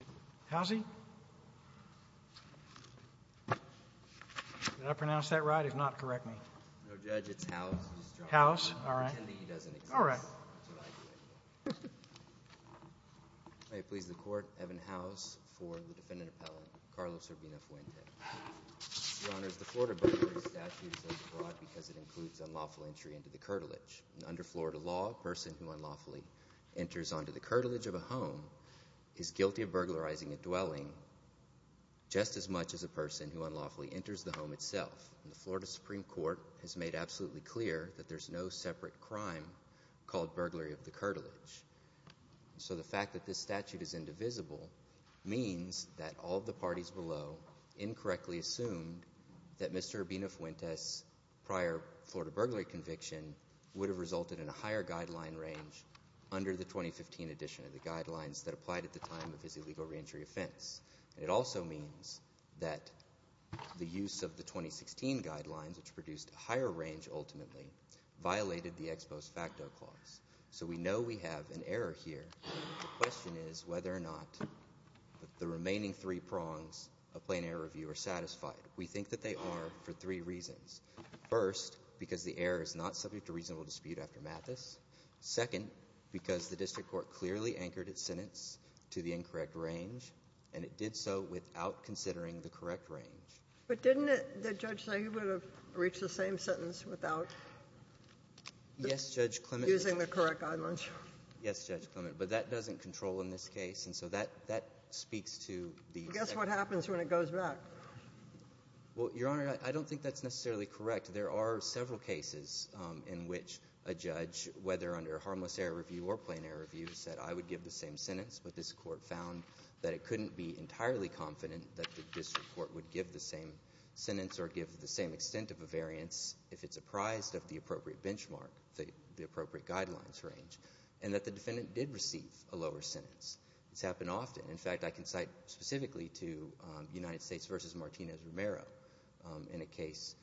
May it please the Court, Evan Howes, for the defendant appellant, Carlos Urbina-Fuentes, who honors the Florida burglary statutes as brought because it includes unlawful entry into the curtilage. Under Florida law, a person who unlawfully enters onto the curtilage of a home is guilty of burglarizing a dwelling just as much as a person who unlawfully enters the home itself. The Florida Supreme Court has made absolutely clear that there's no separate crime called burglary of the curtilage. So the fact that this statute is indivisible means that all of the parties below incorrectly assumed that Mr. Urbina-Fuentes' prior Florida burglary conviction would have resulted in a higher guideline range under the 2015 edition of the guidelines that applied at the time of his illegal reentry offense. It also means that the use of the 2016 guidelines, which produced a higher range ultimately, violated the ex post facto clause. So we know we have an error here. The question is whether or not the remaining three prongs of plain error review are satisfied. We think that they are for three reasons. First, because the error is not subject to reasonable dispute after it has anchored its sentence to the incorrect range, and it did so without considering the correct range. But didn't it the judge say he would have reached the same sentence without? Yes, Judge Clement. Using the correct guidelines. Yes, Judge Clement. But that doesn't control in this case, and so that speaks to the effect. Guess what happens when it goes back. Well, Your Honor, I don't think that's necessarily correct. There are several cases in which a judge, whether under harmless error review or plain error review, said I would give the same sentence, but this Court found that it couldn't be entirely confident that the district court would give the same sentence or give the same extent of a variance if it's apprised of the appropriate benchmark, the appropriate guidelines range, and that the defendant did receive a lower sentence. It's happened often. In fact, I can cite specifically to United States v. Martinez Romero in a case,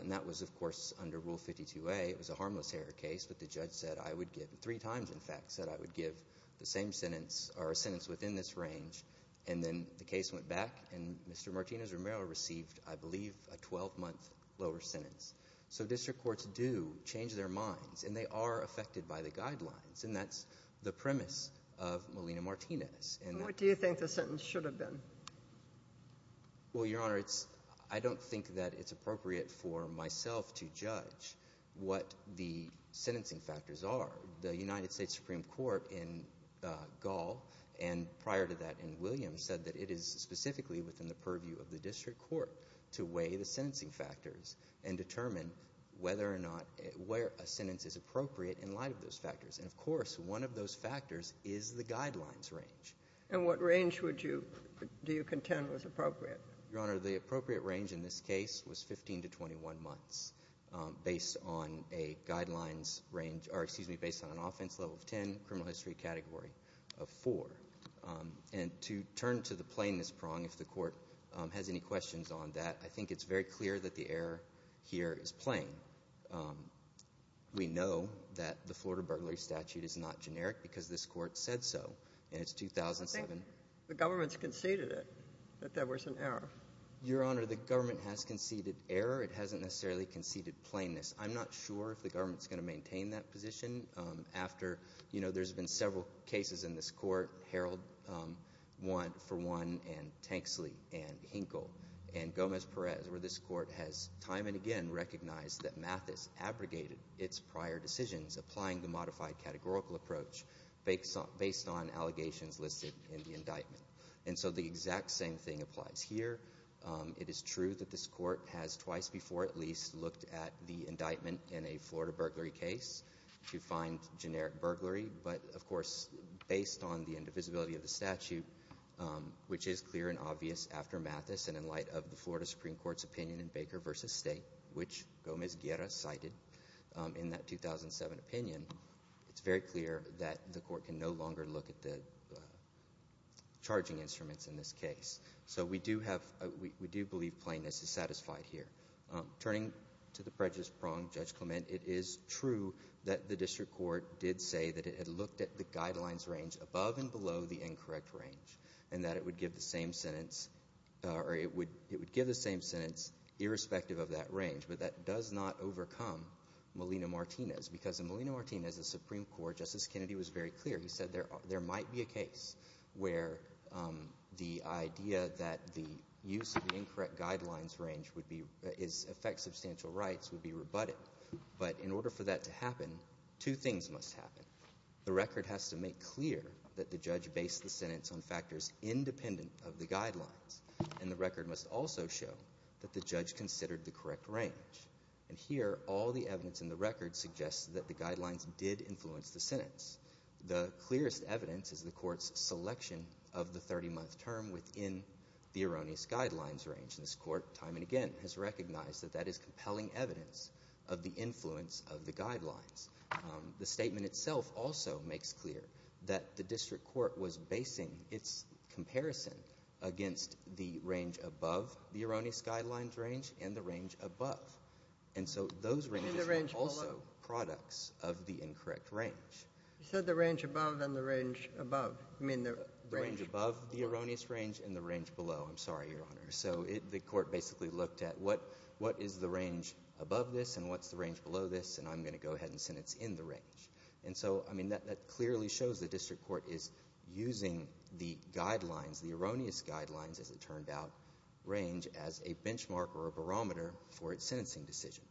and that was, of course, under Rule 52a. It was a harmless error case, but the judge said I would give, three times, in fact, said I would give the same sentence or a sentence within this range, and then the case went back, and Mr. Martinez Romero received, I believe, a 12-month lower sentence. So district courts do change their minds, and they are affected by the guidelines, and that's the premise of Molina-Martinez. And what do you think the sentence should have been? Well, Your Honor, it's — I don't think that it's appropriate for myself to judge what the sentencing factors are. The United States Supreme Court in Gall, and prior to that in Williams, said that it is specifically within the purview of the district court to weigh the sentencing factors and determine whether or not — where a sentence is appropriate in light of those factors. And, of course, one of those factors is the guidelines range. And what range would you — do you contend was appropriate? Your Honor, the appropriate range in this case was 15 to 21 months, based on a guidelines range — or, excuse me, based on an offense level of 10, criminal history category of 4. And to turn to the plainness prong, if the Court has any questions on that, I think it's very clear that the error here is plain. We know that the Florida burglary statute is not generic because this Court said so, and it's 2007. The government's conceded it, that there was an error. Your Honor, the government has conceded error. It hasn't necessarily conceded plainness. I'm not sure if the government's going to maintain that position after, you know, there's been several cases in this Court, Harold for one, and Tanksley, and Hinkle, and Gomez-Perez, where this Court has time and again recognized that Mathis abrogated its prior decisions, applying the modified categorical approach based on allegations listed in the indictment. And so the exact same thing applies here. It is true that this Court has twice before at least looked at the indictment in a Florida burglary case to find generic burglary, but of course, based on the indivisibility of the statute, which is clear and obvious after Mathis, and in light of the Florida Supreme Court's opinion in Baker v. State, which Gomez-Guerra cited in that 2007 opinion, it's very clear that the Court can no longer look at the charging instruments in this case. So we do have a, we do believe plainness is satisfied here. Turning to the prejudice prong, Judge Clement, it is true that the district court did say that it had looked at the guidelines range above and below the incorrect range, and that it would give the same sentence, or it would give the same sentence irrespective of that range. But that does not overcome Molina-Martinez, because in Molina-Martinez, the Supreme Court, Justice Kennedy was very clear. He said there might be a case where the idea that the use of the incorrect guidelines range would be, is affect substantial rights, would be rebutted. But in order for that to happen, two things must happen. The record has to make clear that the judge based the sentence on independent of the guidelines. And the record must also show that the judge considered the correct range. And here, all the evidence in the record suggests that the guidelines did influence the sentence. The clearest evidence is the Court's selection of the 30-month term within the erroneous guidelines range. And this Court, time and again, has recognized that that is compelling evidence of the influence of the guidelines. The statement itself also makes clear that the district court was basing its comparison against the range above the erroneous guidelines range and the range above. And so those ranges were also products of the incorrect range. You said the range above and the range above. You mean the range below. The range above the erroneous range and the range below. I'm sorry, Your Honor. So the court basically looked at what is the range above this and what's the range below this, and I'm going to go ahead and sentence in the range. And so, I mean, that clearly shows the district court is using the guidelines, the erroneous guidelines, as it turned out, range as a benchmark or a barometer for its sentencing decision.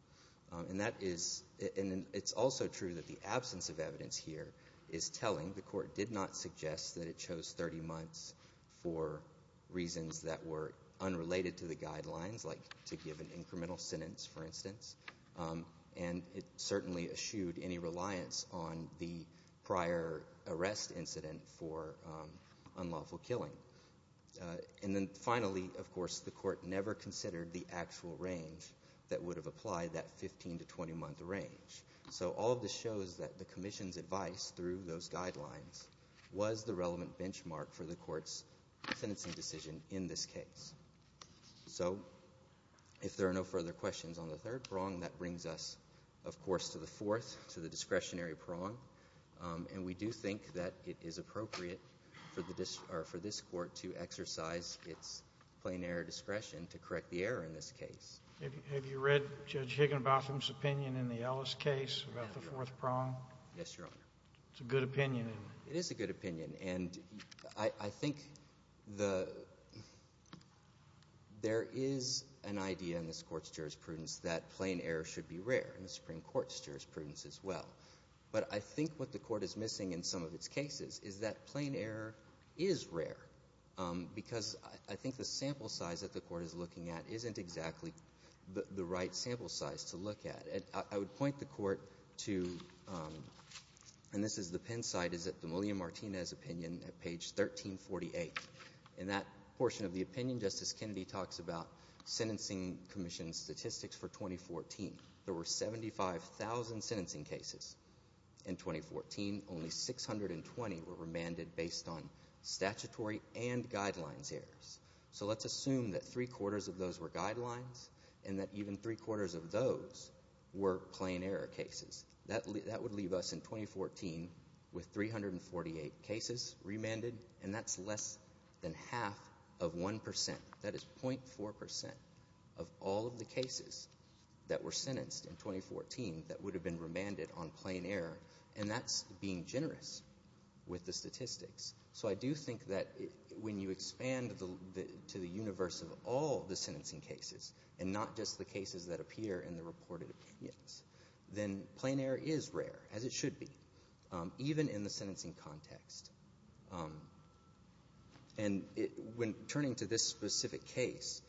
And that is — and it's also true that the absence of evidence here is telling. The court did not suggest that it chose 30 months for reasons that were unrelated to the guidelines, like to give an incremental sentence, for instance. And it certainly eschewed any reliance on the prior arrest incident for unlawful killing. And then finally, of course, the court never considered the actual range that would have applied that 15- to 20-month range. So all of this shows that the commission's advice through those guidelines was the relevant benchmark for the court's sentencing decision in this case. So if there are no further questions on the third prong, that brings us, of course, to the fourth, to the discretionary prong. And we do think that it is appropriate for the — or for this court to exercise its plain error discretion to correct the error in this case. Have you read Judge Higginbotham's opinion in the Ellis case about the fourth prong? Yes, Your Honor. It's a good opinion. It is a good opinion. And I think the — there is an idea in this court's jurisprudence that plain error should be rare in the Supreme Court's jurisprudence as well. But I think what the court is missing in some of its cases is that plain error is rare, because I think the sample size that the court is looking at isn't exactly the right sample size to look at. I would point the court to — and this is the Penn site — is that the William Martinez opinion at page 1348. In that portion of the opinion, Justice Kennedy talks about sentencing commission statistics for 2014. There were 75,000 sentencing cases in 2014. Only 620 were remanded based on statutory and guidelines errors. So let's assume that three-quarters of those were guidelines and that even three-quarters of those were plain error cases. That would leave us in 2014 with 348 cases remanded, and that's less than half of 1 percent. That is 0.4 percent of all of the cases that were sentenced in 2014 that would have been remanded on plain error. And that's being generous with the statistics. So I do think that when you expand to the universe of all the sentencing cases, and not just the cases that appear in the reported opinions, then plain error is rare, as it should be, even in the sentencing context. And when turning to this specific case,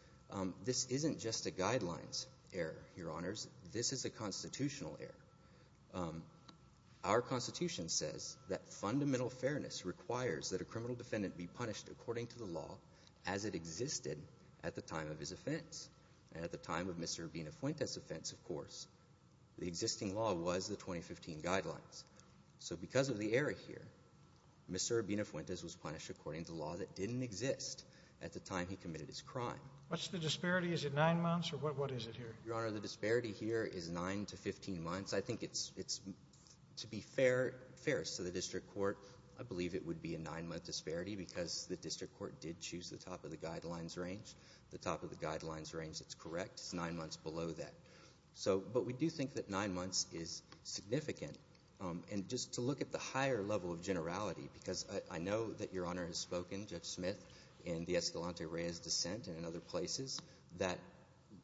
this isn't just a guidelines error, Your Honors. This is a constitutional error. Our Constitution says that fundamental fairness requires that a criminal defendant be punished according to the law as it existed at the time of his offense. And at the time of Mr. Abinafuentes' offense, of course, the existing law was the 2015 guidelines. So because of the error here, Mr. Abinafuentes was punished according to law that didn't exist at the time he committed his crime. What's the disparity? Is it 9 months, or what is it here? Your Honor, the disparity here is 9 to 15 months. I think it's, to be fair, fair to the district court, I believe it would be a 9-month disparity because the district court did choose the top of the guidelines range. The top of the guidelines range that's correct is 9 months below that. So, but we do think that 9 months is significant. And just to look at the higher level of generality, because I know that Your Honor has spoken, Judge Smith, in the Escalante-Reyes dissent and in other places, that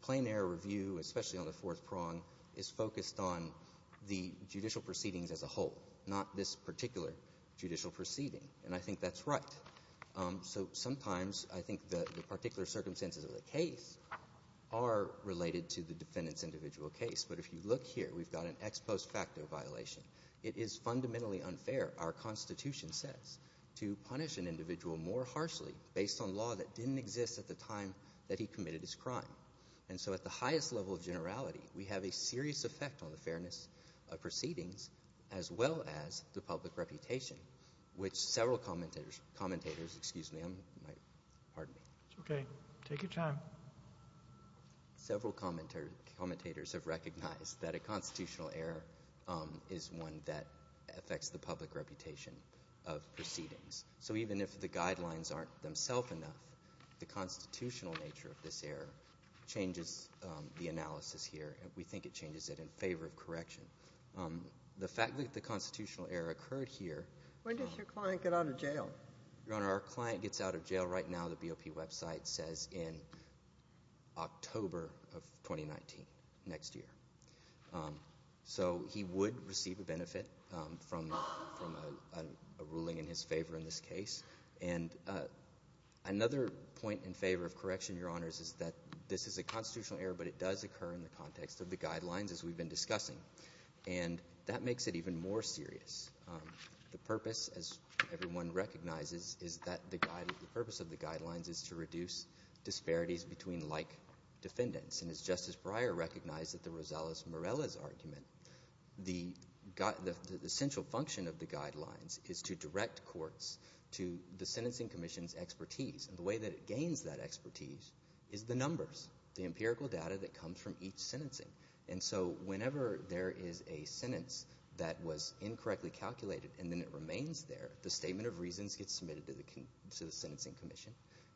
plain error review, especially on the fourth prong, is focused on the judicial proceedings as a whole, not this particular judicial proceeding. And I think that's right. So sometimes I think the particular circumstances of the case are related to the defendant's individual case. But if you look here, we've got an ex post facto violation. It is fundamentally unfair, our Constitution says, to punish an individual more harshly based on law that didn't exist at the time that he committed his crime. And so at the highest level of generality, we have a serious effect on the fairness of proceedings as well as the public reputation, which several commentators, commentators, excuse me, I'm, my, pardon me. It's okay. Take your time. Several commentators have recognized that a constitutional error is one that affects the public reputation of proceedings. So even if the guidelines aren't themself enough, the constitutional nature of this error changes the analysis here. We think it changes it in favor of correction. The fact that the constitutional error occurred here. When does your client get out of jail? Your Honor, our client gets out of jail right now. The BOP website says in October of 2019, next year. So he would receive a benefit from a ruling in his favor in this case. And another point in favor of correction, Your Honors, is that this is a constitutional error, but it does occur in the context of the guidelines as we've been discussing. And that makes it even more serious. The purpose, as everyone recognizes, is that the purpose of the guidelines is to reduce disparities between like defendants. And as Justice Breyer recognized at the Rosales-Morales argument, the essential function of the guidelines is to direct courts to the Sentencing Commission's expertise. And the way that it gains that expertise is the numbers, the empirical evidence. When there is a sentence that was incorrectly calculated and then it remains there, the statement of reasons gets submitted to the Sentencing Commission.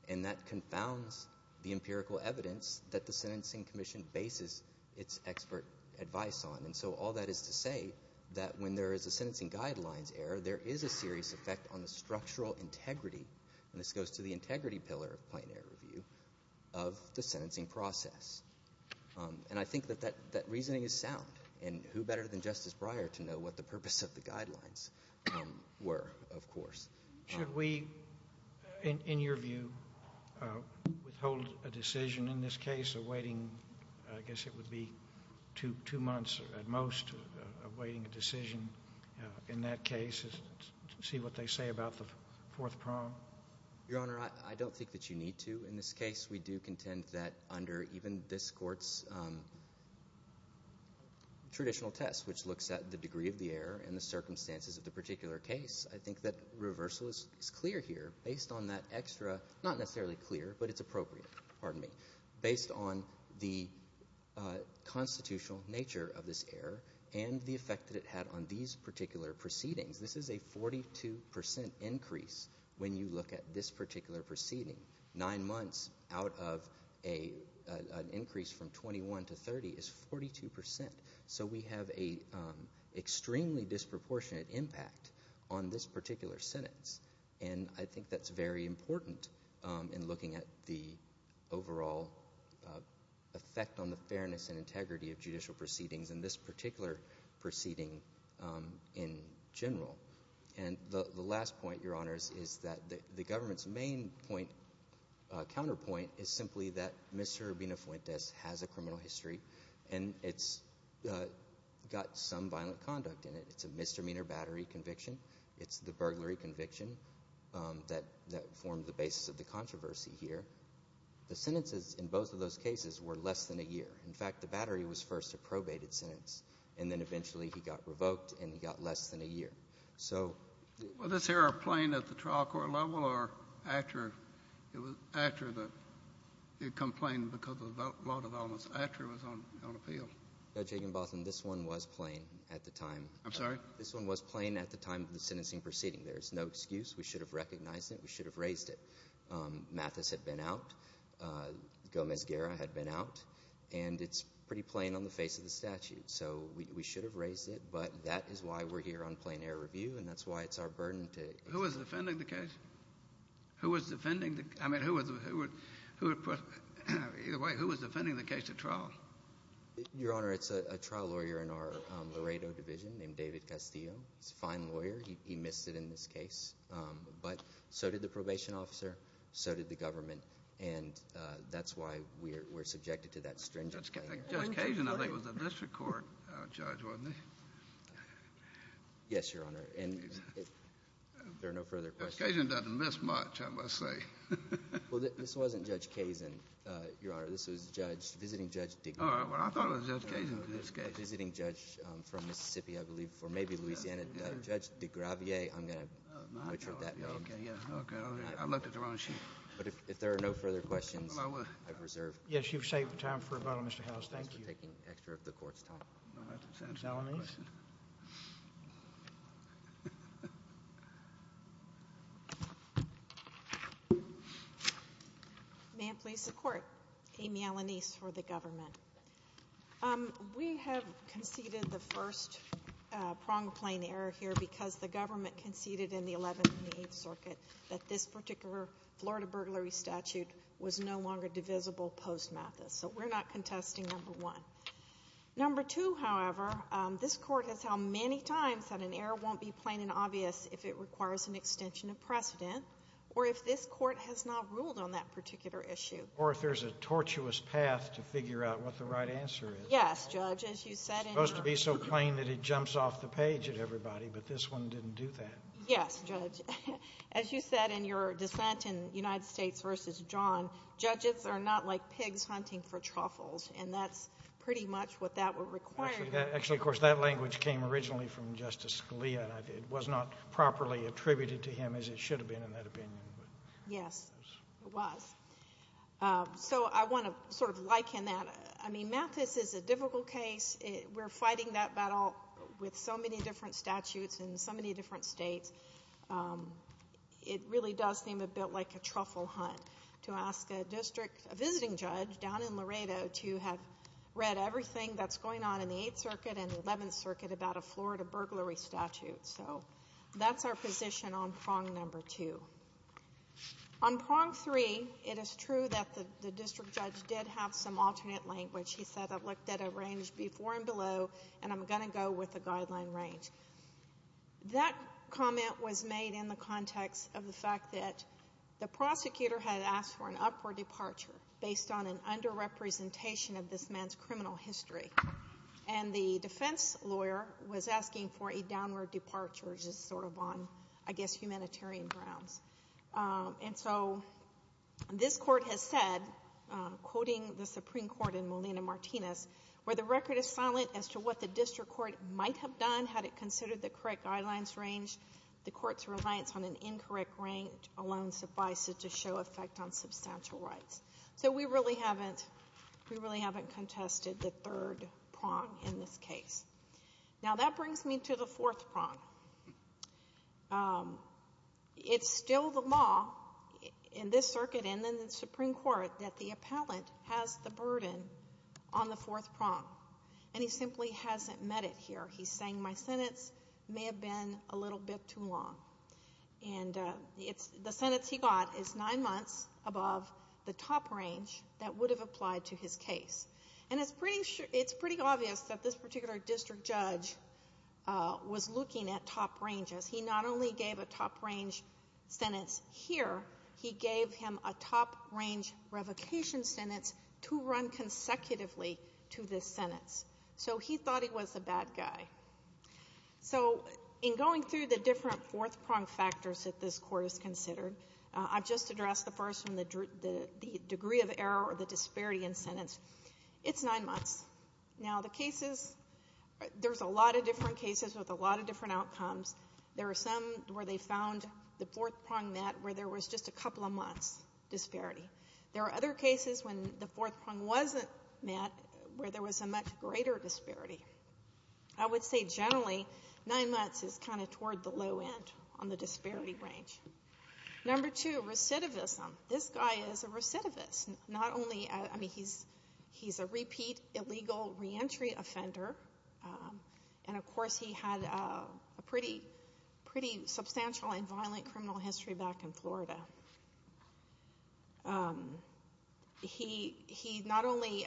And that confounds the empirical evidence that the Sentencing Commission bases its expert advice on. And so all that is to say that when there is a sentencing guidelines error, there is a serious effect on the structural integrity, and this goes to the integrity pillar of plain error review, of the sentencing process. And I think that that reasoning is sound. And who better than Justice Breyer to know what the purpose of the guidelines were, of course. Should we, in your view, withhold a decision in this case awaiting, I guess it would be two months at most, awaiting a decision in that case to see what they say about the fourth prong? Your Honor, I don't think that you need to in this case. We do contend that under even this Court's traditional test, which looks at the degree of the error and the circumstances of the particular case, I think that reversal is clear here based on that extra, not necessarily clear, but it's appropriate, pardon me, based on the constitutional nature of this error and the effect that it had on these particular proceedings. This is a 42 percent increase when you look at this particular proceeding. Nine months out of an increase from 21 to 30 is 42 percent. So we have an extremely disproportionate impact on this particular sentence. And I think that's very important in looking at the overall effect on the fairness and integrity of judicial proceedings in this particular proceeding in general. And the last point, Your Honors, is that the government's main point, counterpoint, is simply that Mr. Urbina-Fuentes has a criminal history and it's got some violent conduct in it. It's a misdemeanor battery conviction. It's the burglary conviction that formed the basis of the controversy here. The sentences in both of those cases were less than a year. In fact, the battery was first a probated sentence, and then eventually he got revoked and he got less than a year. So the — Kennedy. Well, is this error plain at the trial court level or after it was — after the complaint because of the law development, after it was on appeal? Boutrous. No, Judge Higginbotham, this one was plain at the time. Kennedy. I'm sorry? Boutrous. This one was plain at the time of the sentencing proceeding. There's no excuse. We should have recognized it. We should have raised it. Mathis had been out. Gomez-Guerra had been out. And it's pretty plain on the face of the statute. So we should have raised it. But that is why we're here on plain error review, and that's why it's our burden to — Kennedy. Who was defending the case? Who was defending the — I mean, who was — who would — either way, who was defending the case at trial? Boutrous. Your Honor, it's a trial lawyer in our Laredo division named David Castillo. He's a fine lawyer. He missed it in this case. But so did the probation officer. So did the government. And that's why we're subjected to that stringent — Kennedy. Judge Cajun, I think, was a district court judge, wasn't he? Yes, Your Honor. And if there are no further questions — Cajun doesn't miss much, I must say. Well, this wasn't Judge Cajun, Your Honor. This was Judge — visiting Judge — All right. Well, I thought it was Judge Cajun in this case. Visiting Judge from Mississippi, I believe, or maybe Louisiana. Judge deGravier, I'm going to butcher that name. Okay. Yeah. Okay. I looked at the wrong sheet. But if there are no further questions, I reserve — Yes, you've saved time for a moment, Mr. Howells. Thank you. Thanks for taking extra of the Court's time. All right. Senator Alanis. May it please the Court. Amy Alanis for the government. We have conceded the first prong plane error here because the government conceded in the 11th and the 8th Circuit that this particular Florida burglary statute was no longer divisible post-Mathis. So we're not contesting number one. Number two, however, this Court has held many times that an error won't be plain and obvious if it requires an extension of precedent or if this Court has not ruled on that particular issue. Or if there's a tortuous path to figure out what the right answer is. Yes, Judge. As you said in your — It's supposed to be so plain that it jumps off the page at everybody, but this one didn't do that. Yes, Judge. As you said in your dissent in United States v. John, judges are not like pigs hunting for truffles, and that's pretty much what that would require. Actually, of course, that language came originally from Justice Scalia, and it was not properly attributed to him as it should have been in that opinion. Yes, it was. So I want to sort of liken that. I mean, Mathis is a difficult case. We're fighting that battle with so many different statutes in so many different states. It really does seem a bit like a truffle hunt to ask a district — a visiting judge down in Laredo to have read everything that's going on in the Eighth Circuit and the Eleventh Circuit about a Florida burglary statute. So that's our position on prong number two. On prong three, it is true that the district judge did have some alternate language. He said, I've looked at a range before and below, and I'm going to go with the guideline range. That comment was made in the context of the fact that the prosecutor had asked for an upward departure based on an underrepresentation of this man's criminal history. And the defense lawyer was asking for a downward departure, which is sort of on, I guess, humanitarian grounds. And so this Court has said, quoting the Supreme Court in Molina-Martinez, where the record is silent as to what the district court might have done had it considered the correct guidelines range. The court's reliance on an incorrect range alone suffices to show effect on substantial rights. So we really haven't contested the third prong in this case. Now, that brings me to the fourth prong. It's still the law in this circuit and in the Supreme Court that the appellant has the burden on the fourth prong, and he simply hasn't met it here. He's saying my sentence may have been a little bit too long. And the sentence he got is nine months above the top range that would have applied to his case. And it's pretty obvious that this particular district judge was looking at top ranges. He not only gave a top-range sentence here, he gave him a top-range revocation sentence to run consecutively to this sentence. So he thought he was a bad guy. So in going through the different fourth prong factors that this court has considered, I've just addressed the first one, the degree of error or the disparity in sentence. It's nine months. Now, the cases, there's a lot of different cases with a lot of different outcomes. There are some where they found the fourth prong met where there was just a couple of months disparity. There are other cases when the fourth prong wasn't met where there was a much greater disparity. I would say generally, nine months is kind of toward the low end on the disparity range. Number two, recidivism. This guy is a recidivist. Not only, I mean, he's a repeat illegal re-entry offender. And of course, he had a pretty substantial and violent criminal history back in Florida. He not only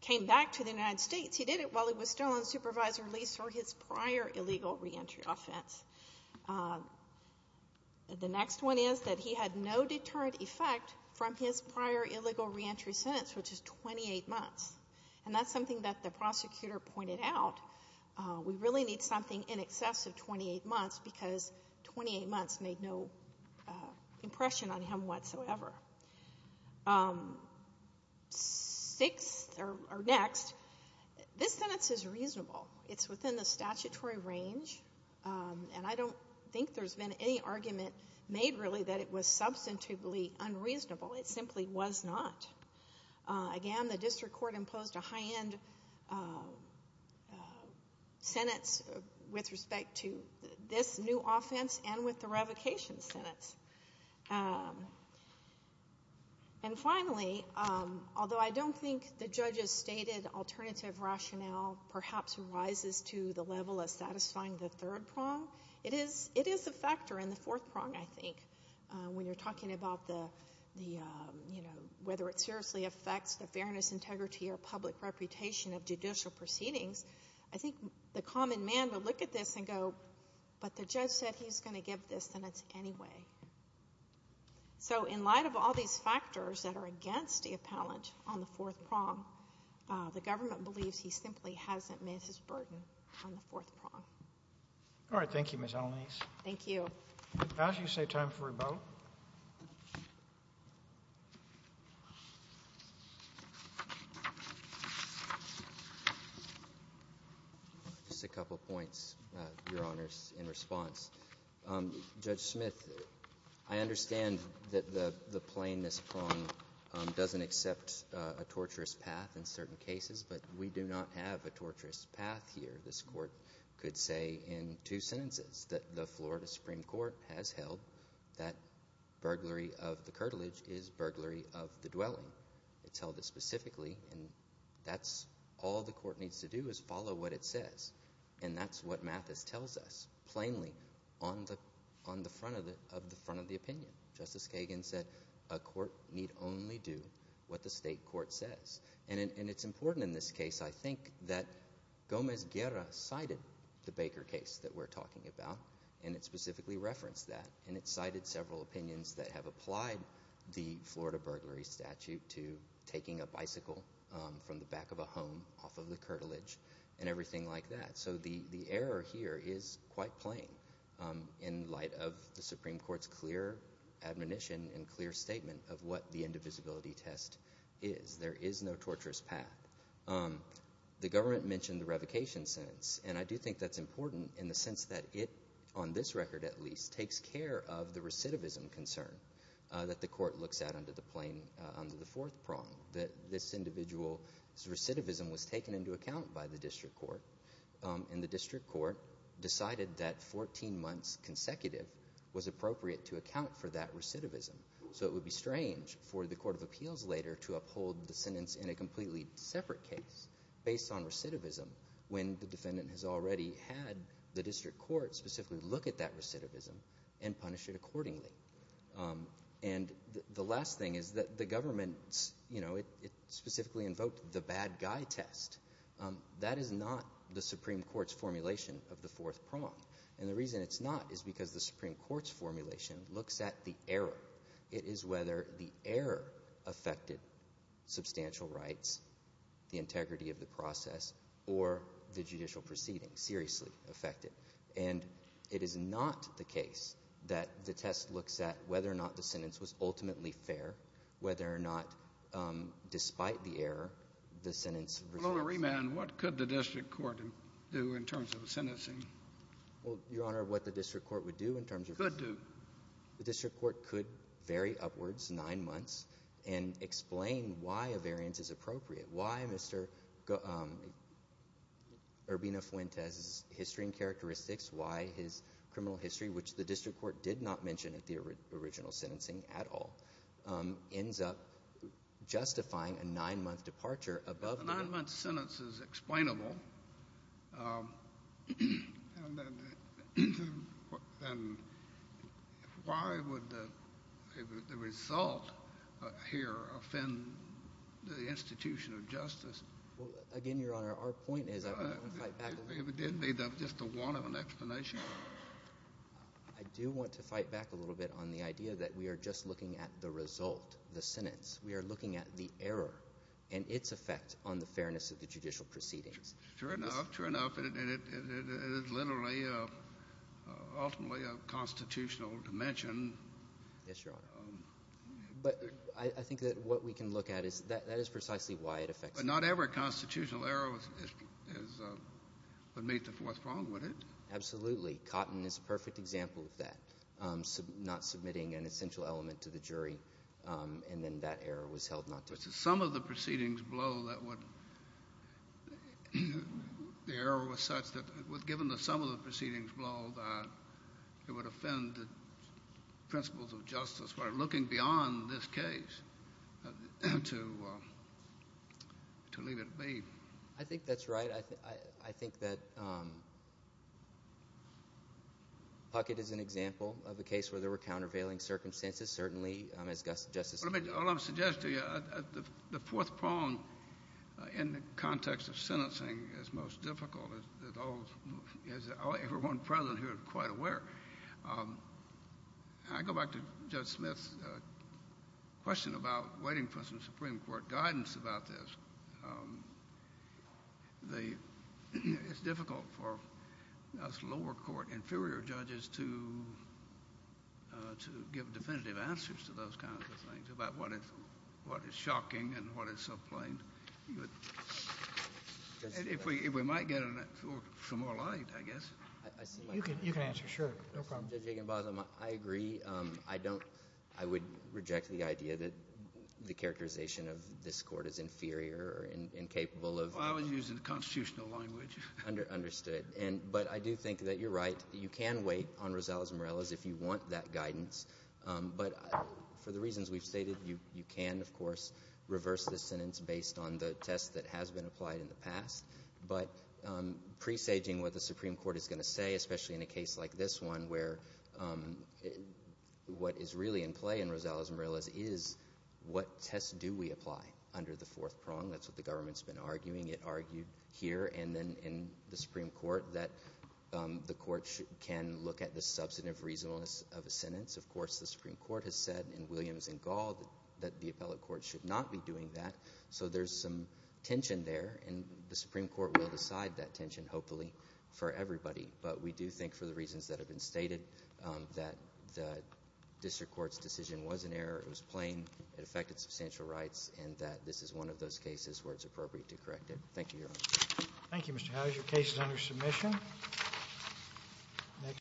came back to the United States he did it while he was still on supervisor lease for his prior illegal re-entry offense. The next one is that he had no deterrent effect from his prior illegal re-entry sentence, which is 28 months. And that's something that the prosecutor pointed out. We really need something in excess of 28 months because 28 months made no impression on him whatsoever. Six, or next, this sentence is reasonable. It's within the statutory range. And I don't think there's been any argument made really that it was substantively unreasonable. It simply was not. Again, the district court imposed a high-end sentence with respect to this new offense and with the revocation sentence. And finally, although I don't think the judge has stated alternative rationale perhaps rises to the level of satisfying the third prong, it is a factor in the fourth prong, I think. When you're talking about the, you know, whether it seriously affects the fairness, integrity or public reputation of judicial proceedings, I think the common man would look at this and go, but the judge said he's gonna give this, then it's anyway. So in light of all these factors that are against the appellant on the fourth prong, the government believes he simply hasn't met his burden on the fourth prong. All right, thank you, Ms. Alaniz. Thank you. I'll ask you to save time for rebuttal. Just a couple of points, Your Honors, in response. Judge Smith, I understand that the plainness prong doesn't accept a torturous path in certain cases, but we do not have a torturous path here. This court could say in two sentences that the Florida Supreme Court has held that burglary of the curtilage is burglary of the dwelling. It's held this specifically, and that's all the court needs to do is follow what it says. And that's what Mathis tells us, plainly, on the front of the opinion. Justice Kagan said a court need only do what the state court says. And it's important in this case, I think, that Gomez-Guerra cited the Baker case that we're talking about, and it specifically referenced that. And it cited several opinions that have applied the Florida burglary statute to taking a bicycle from the back of a home off of the curtilage and everything like that. So the error here is quite plain in light of the Supreme Court's clear admonition and clear statement of what the indivisibility test is. There is no torturous path. The government mentioned the revocation sentence, and I do think that's important in the sense that it, on this record at least, takes care of the recidivism concern that the court looks at under the fourth prong, that this individual's recidivism was taken into account by the district court, and the district court decided that 14 months consecutive was appropriate to account for that recidivism. So it would be strange for the court of appeals later to uphold the sentence in a completely separate case based on recidivism when the defendant has already had the district court specifically look at that recidivism and punish it accordingly. And the last thing is that the government, you know, it specifically invoked the bad guy test. That is not the Supreme Court's formulation of the fourth prong, and the reason it's not is because the Supreme Court's formulation looks at the error. It is whether the error affected substantial rights, the integrity of the process, or the judicial proceedings seriously affected. And it is not the case that the test looks at whether or not the sentence was ultimately fair, whether or not, despite the error, the sentence was fair. Well, Omar Rehman, what could the district court do in terms of a sentencing? Well, Your Honor, what the district court would do in terms of- Could do. The district court could vary upwards nine months and explain why a variance is appropriate, why Mr. Urbina-Fuentes' history and characteristics, why his criminal history, which the district court did not mention at the original sentencing at all. Ends up justifying a nine-month departure above the- A nine-month sentence is explainable. Why would the result here offend the institution of justice? Well, again, Your Honor, our point is, I don't want to fight back- If it did, maybe that's just a wanton explanation. I do want to fight back a little bit on the idea that we are just looking at the result, the sentence. We are looking at the error and its effect on the fairness of the judicial proceedings. True enough, true enough. And it is literally, ultimately, a constitutional dimension. Yes, Your Honor. But I think that what we can look at is, that is precisely why it affects- But not every constitutional error would meet the fourth prong, would it? Absolutely. Cotton is a perfect example of that. Not submitting an essential element to the jury, and then that error was held not just. Some of the proceedings blow that would, the error was such that, given the sum of the proceedings blow, that it would offend the principles of justice. We're looking beyond this case to leave it at be. I think that's right. I think that Puckett is an example of a case where there were countervailing circumstances. Certainly, as Justice- All I'm suggesting to you, the fourth prong in the context of sentencing is most difficult, as everyone present here is quite aware. I go back to Judge Smith's question about waiting for some Supreme Court guidance about this. It's difficult for us lower court inferior judges to give definitive answers to those kinds of things about what is shocking and what is so plain. If we might get some more light, I guess. I see my point. You can answer, sure, no problem. Judge Aginbosom, I agree. I don't, I would reject the idea that the characterization of this court is inferior or incapable of- Well, I was using the constitutional language. Understood, but I do think that you're right. You can wait on Rosales-Morales if you want that guidance, but for the reasons we've stated, you can, of course, reverse the sentence based on the test that has been applied in the past, but presaging what the Supreme Court is gonna say, especially in a case like this one, where what is really in play in Rosales-Morales is what test do we apply under the fourth prong. That's what the government's been arguing. It argued here and then in the Supreme Court that the court can look at the substantive reasonableness of a sentence. Of course, the Supreme Court has said in Williams and Gall that the appellate court should not be doing that, so there's some tension there, and the Supreme Court will decide that tension, hopefully, for everybody, but we do think, for the reasons that have been stated, that the district court's decision was an error, it was plain, it affected substantial rights, and that this is one of those cases where it's appropriate to correct it. Thank you, Your Honor. Thank you, Mr. Howe. Those are your cases under submission.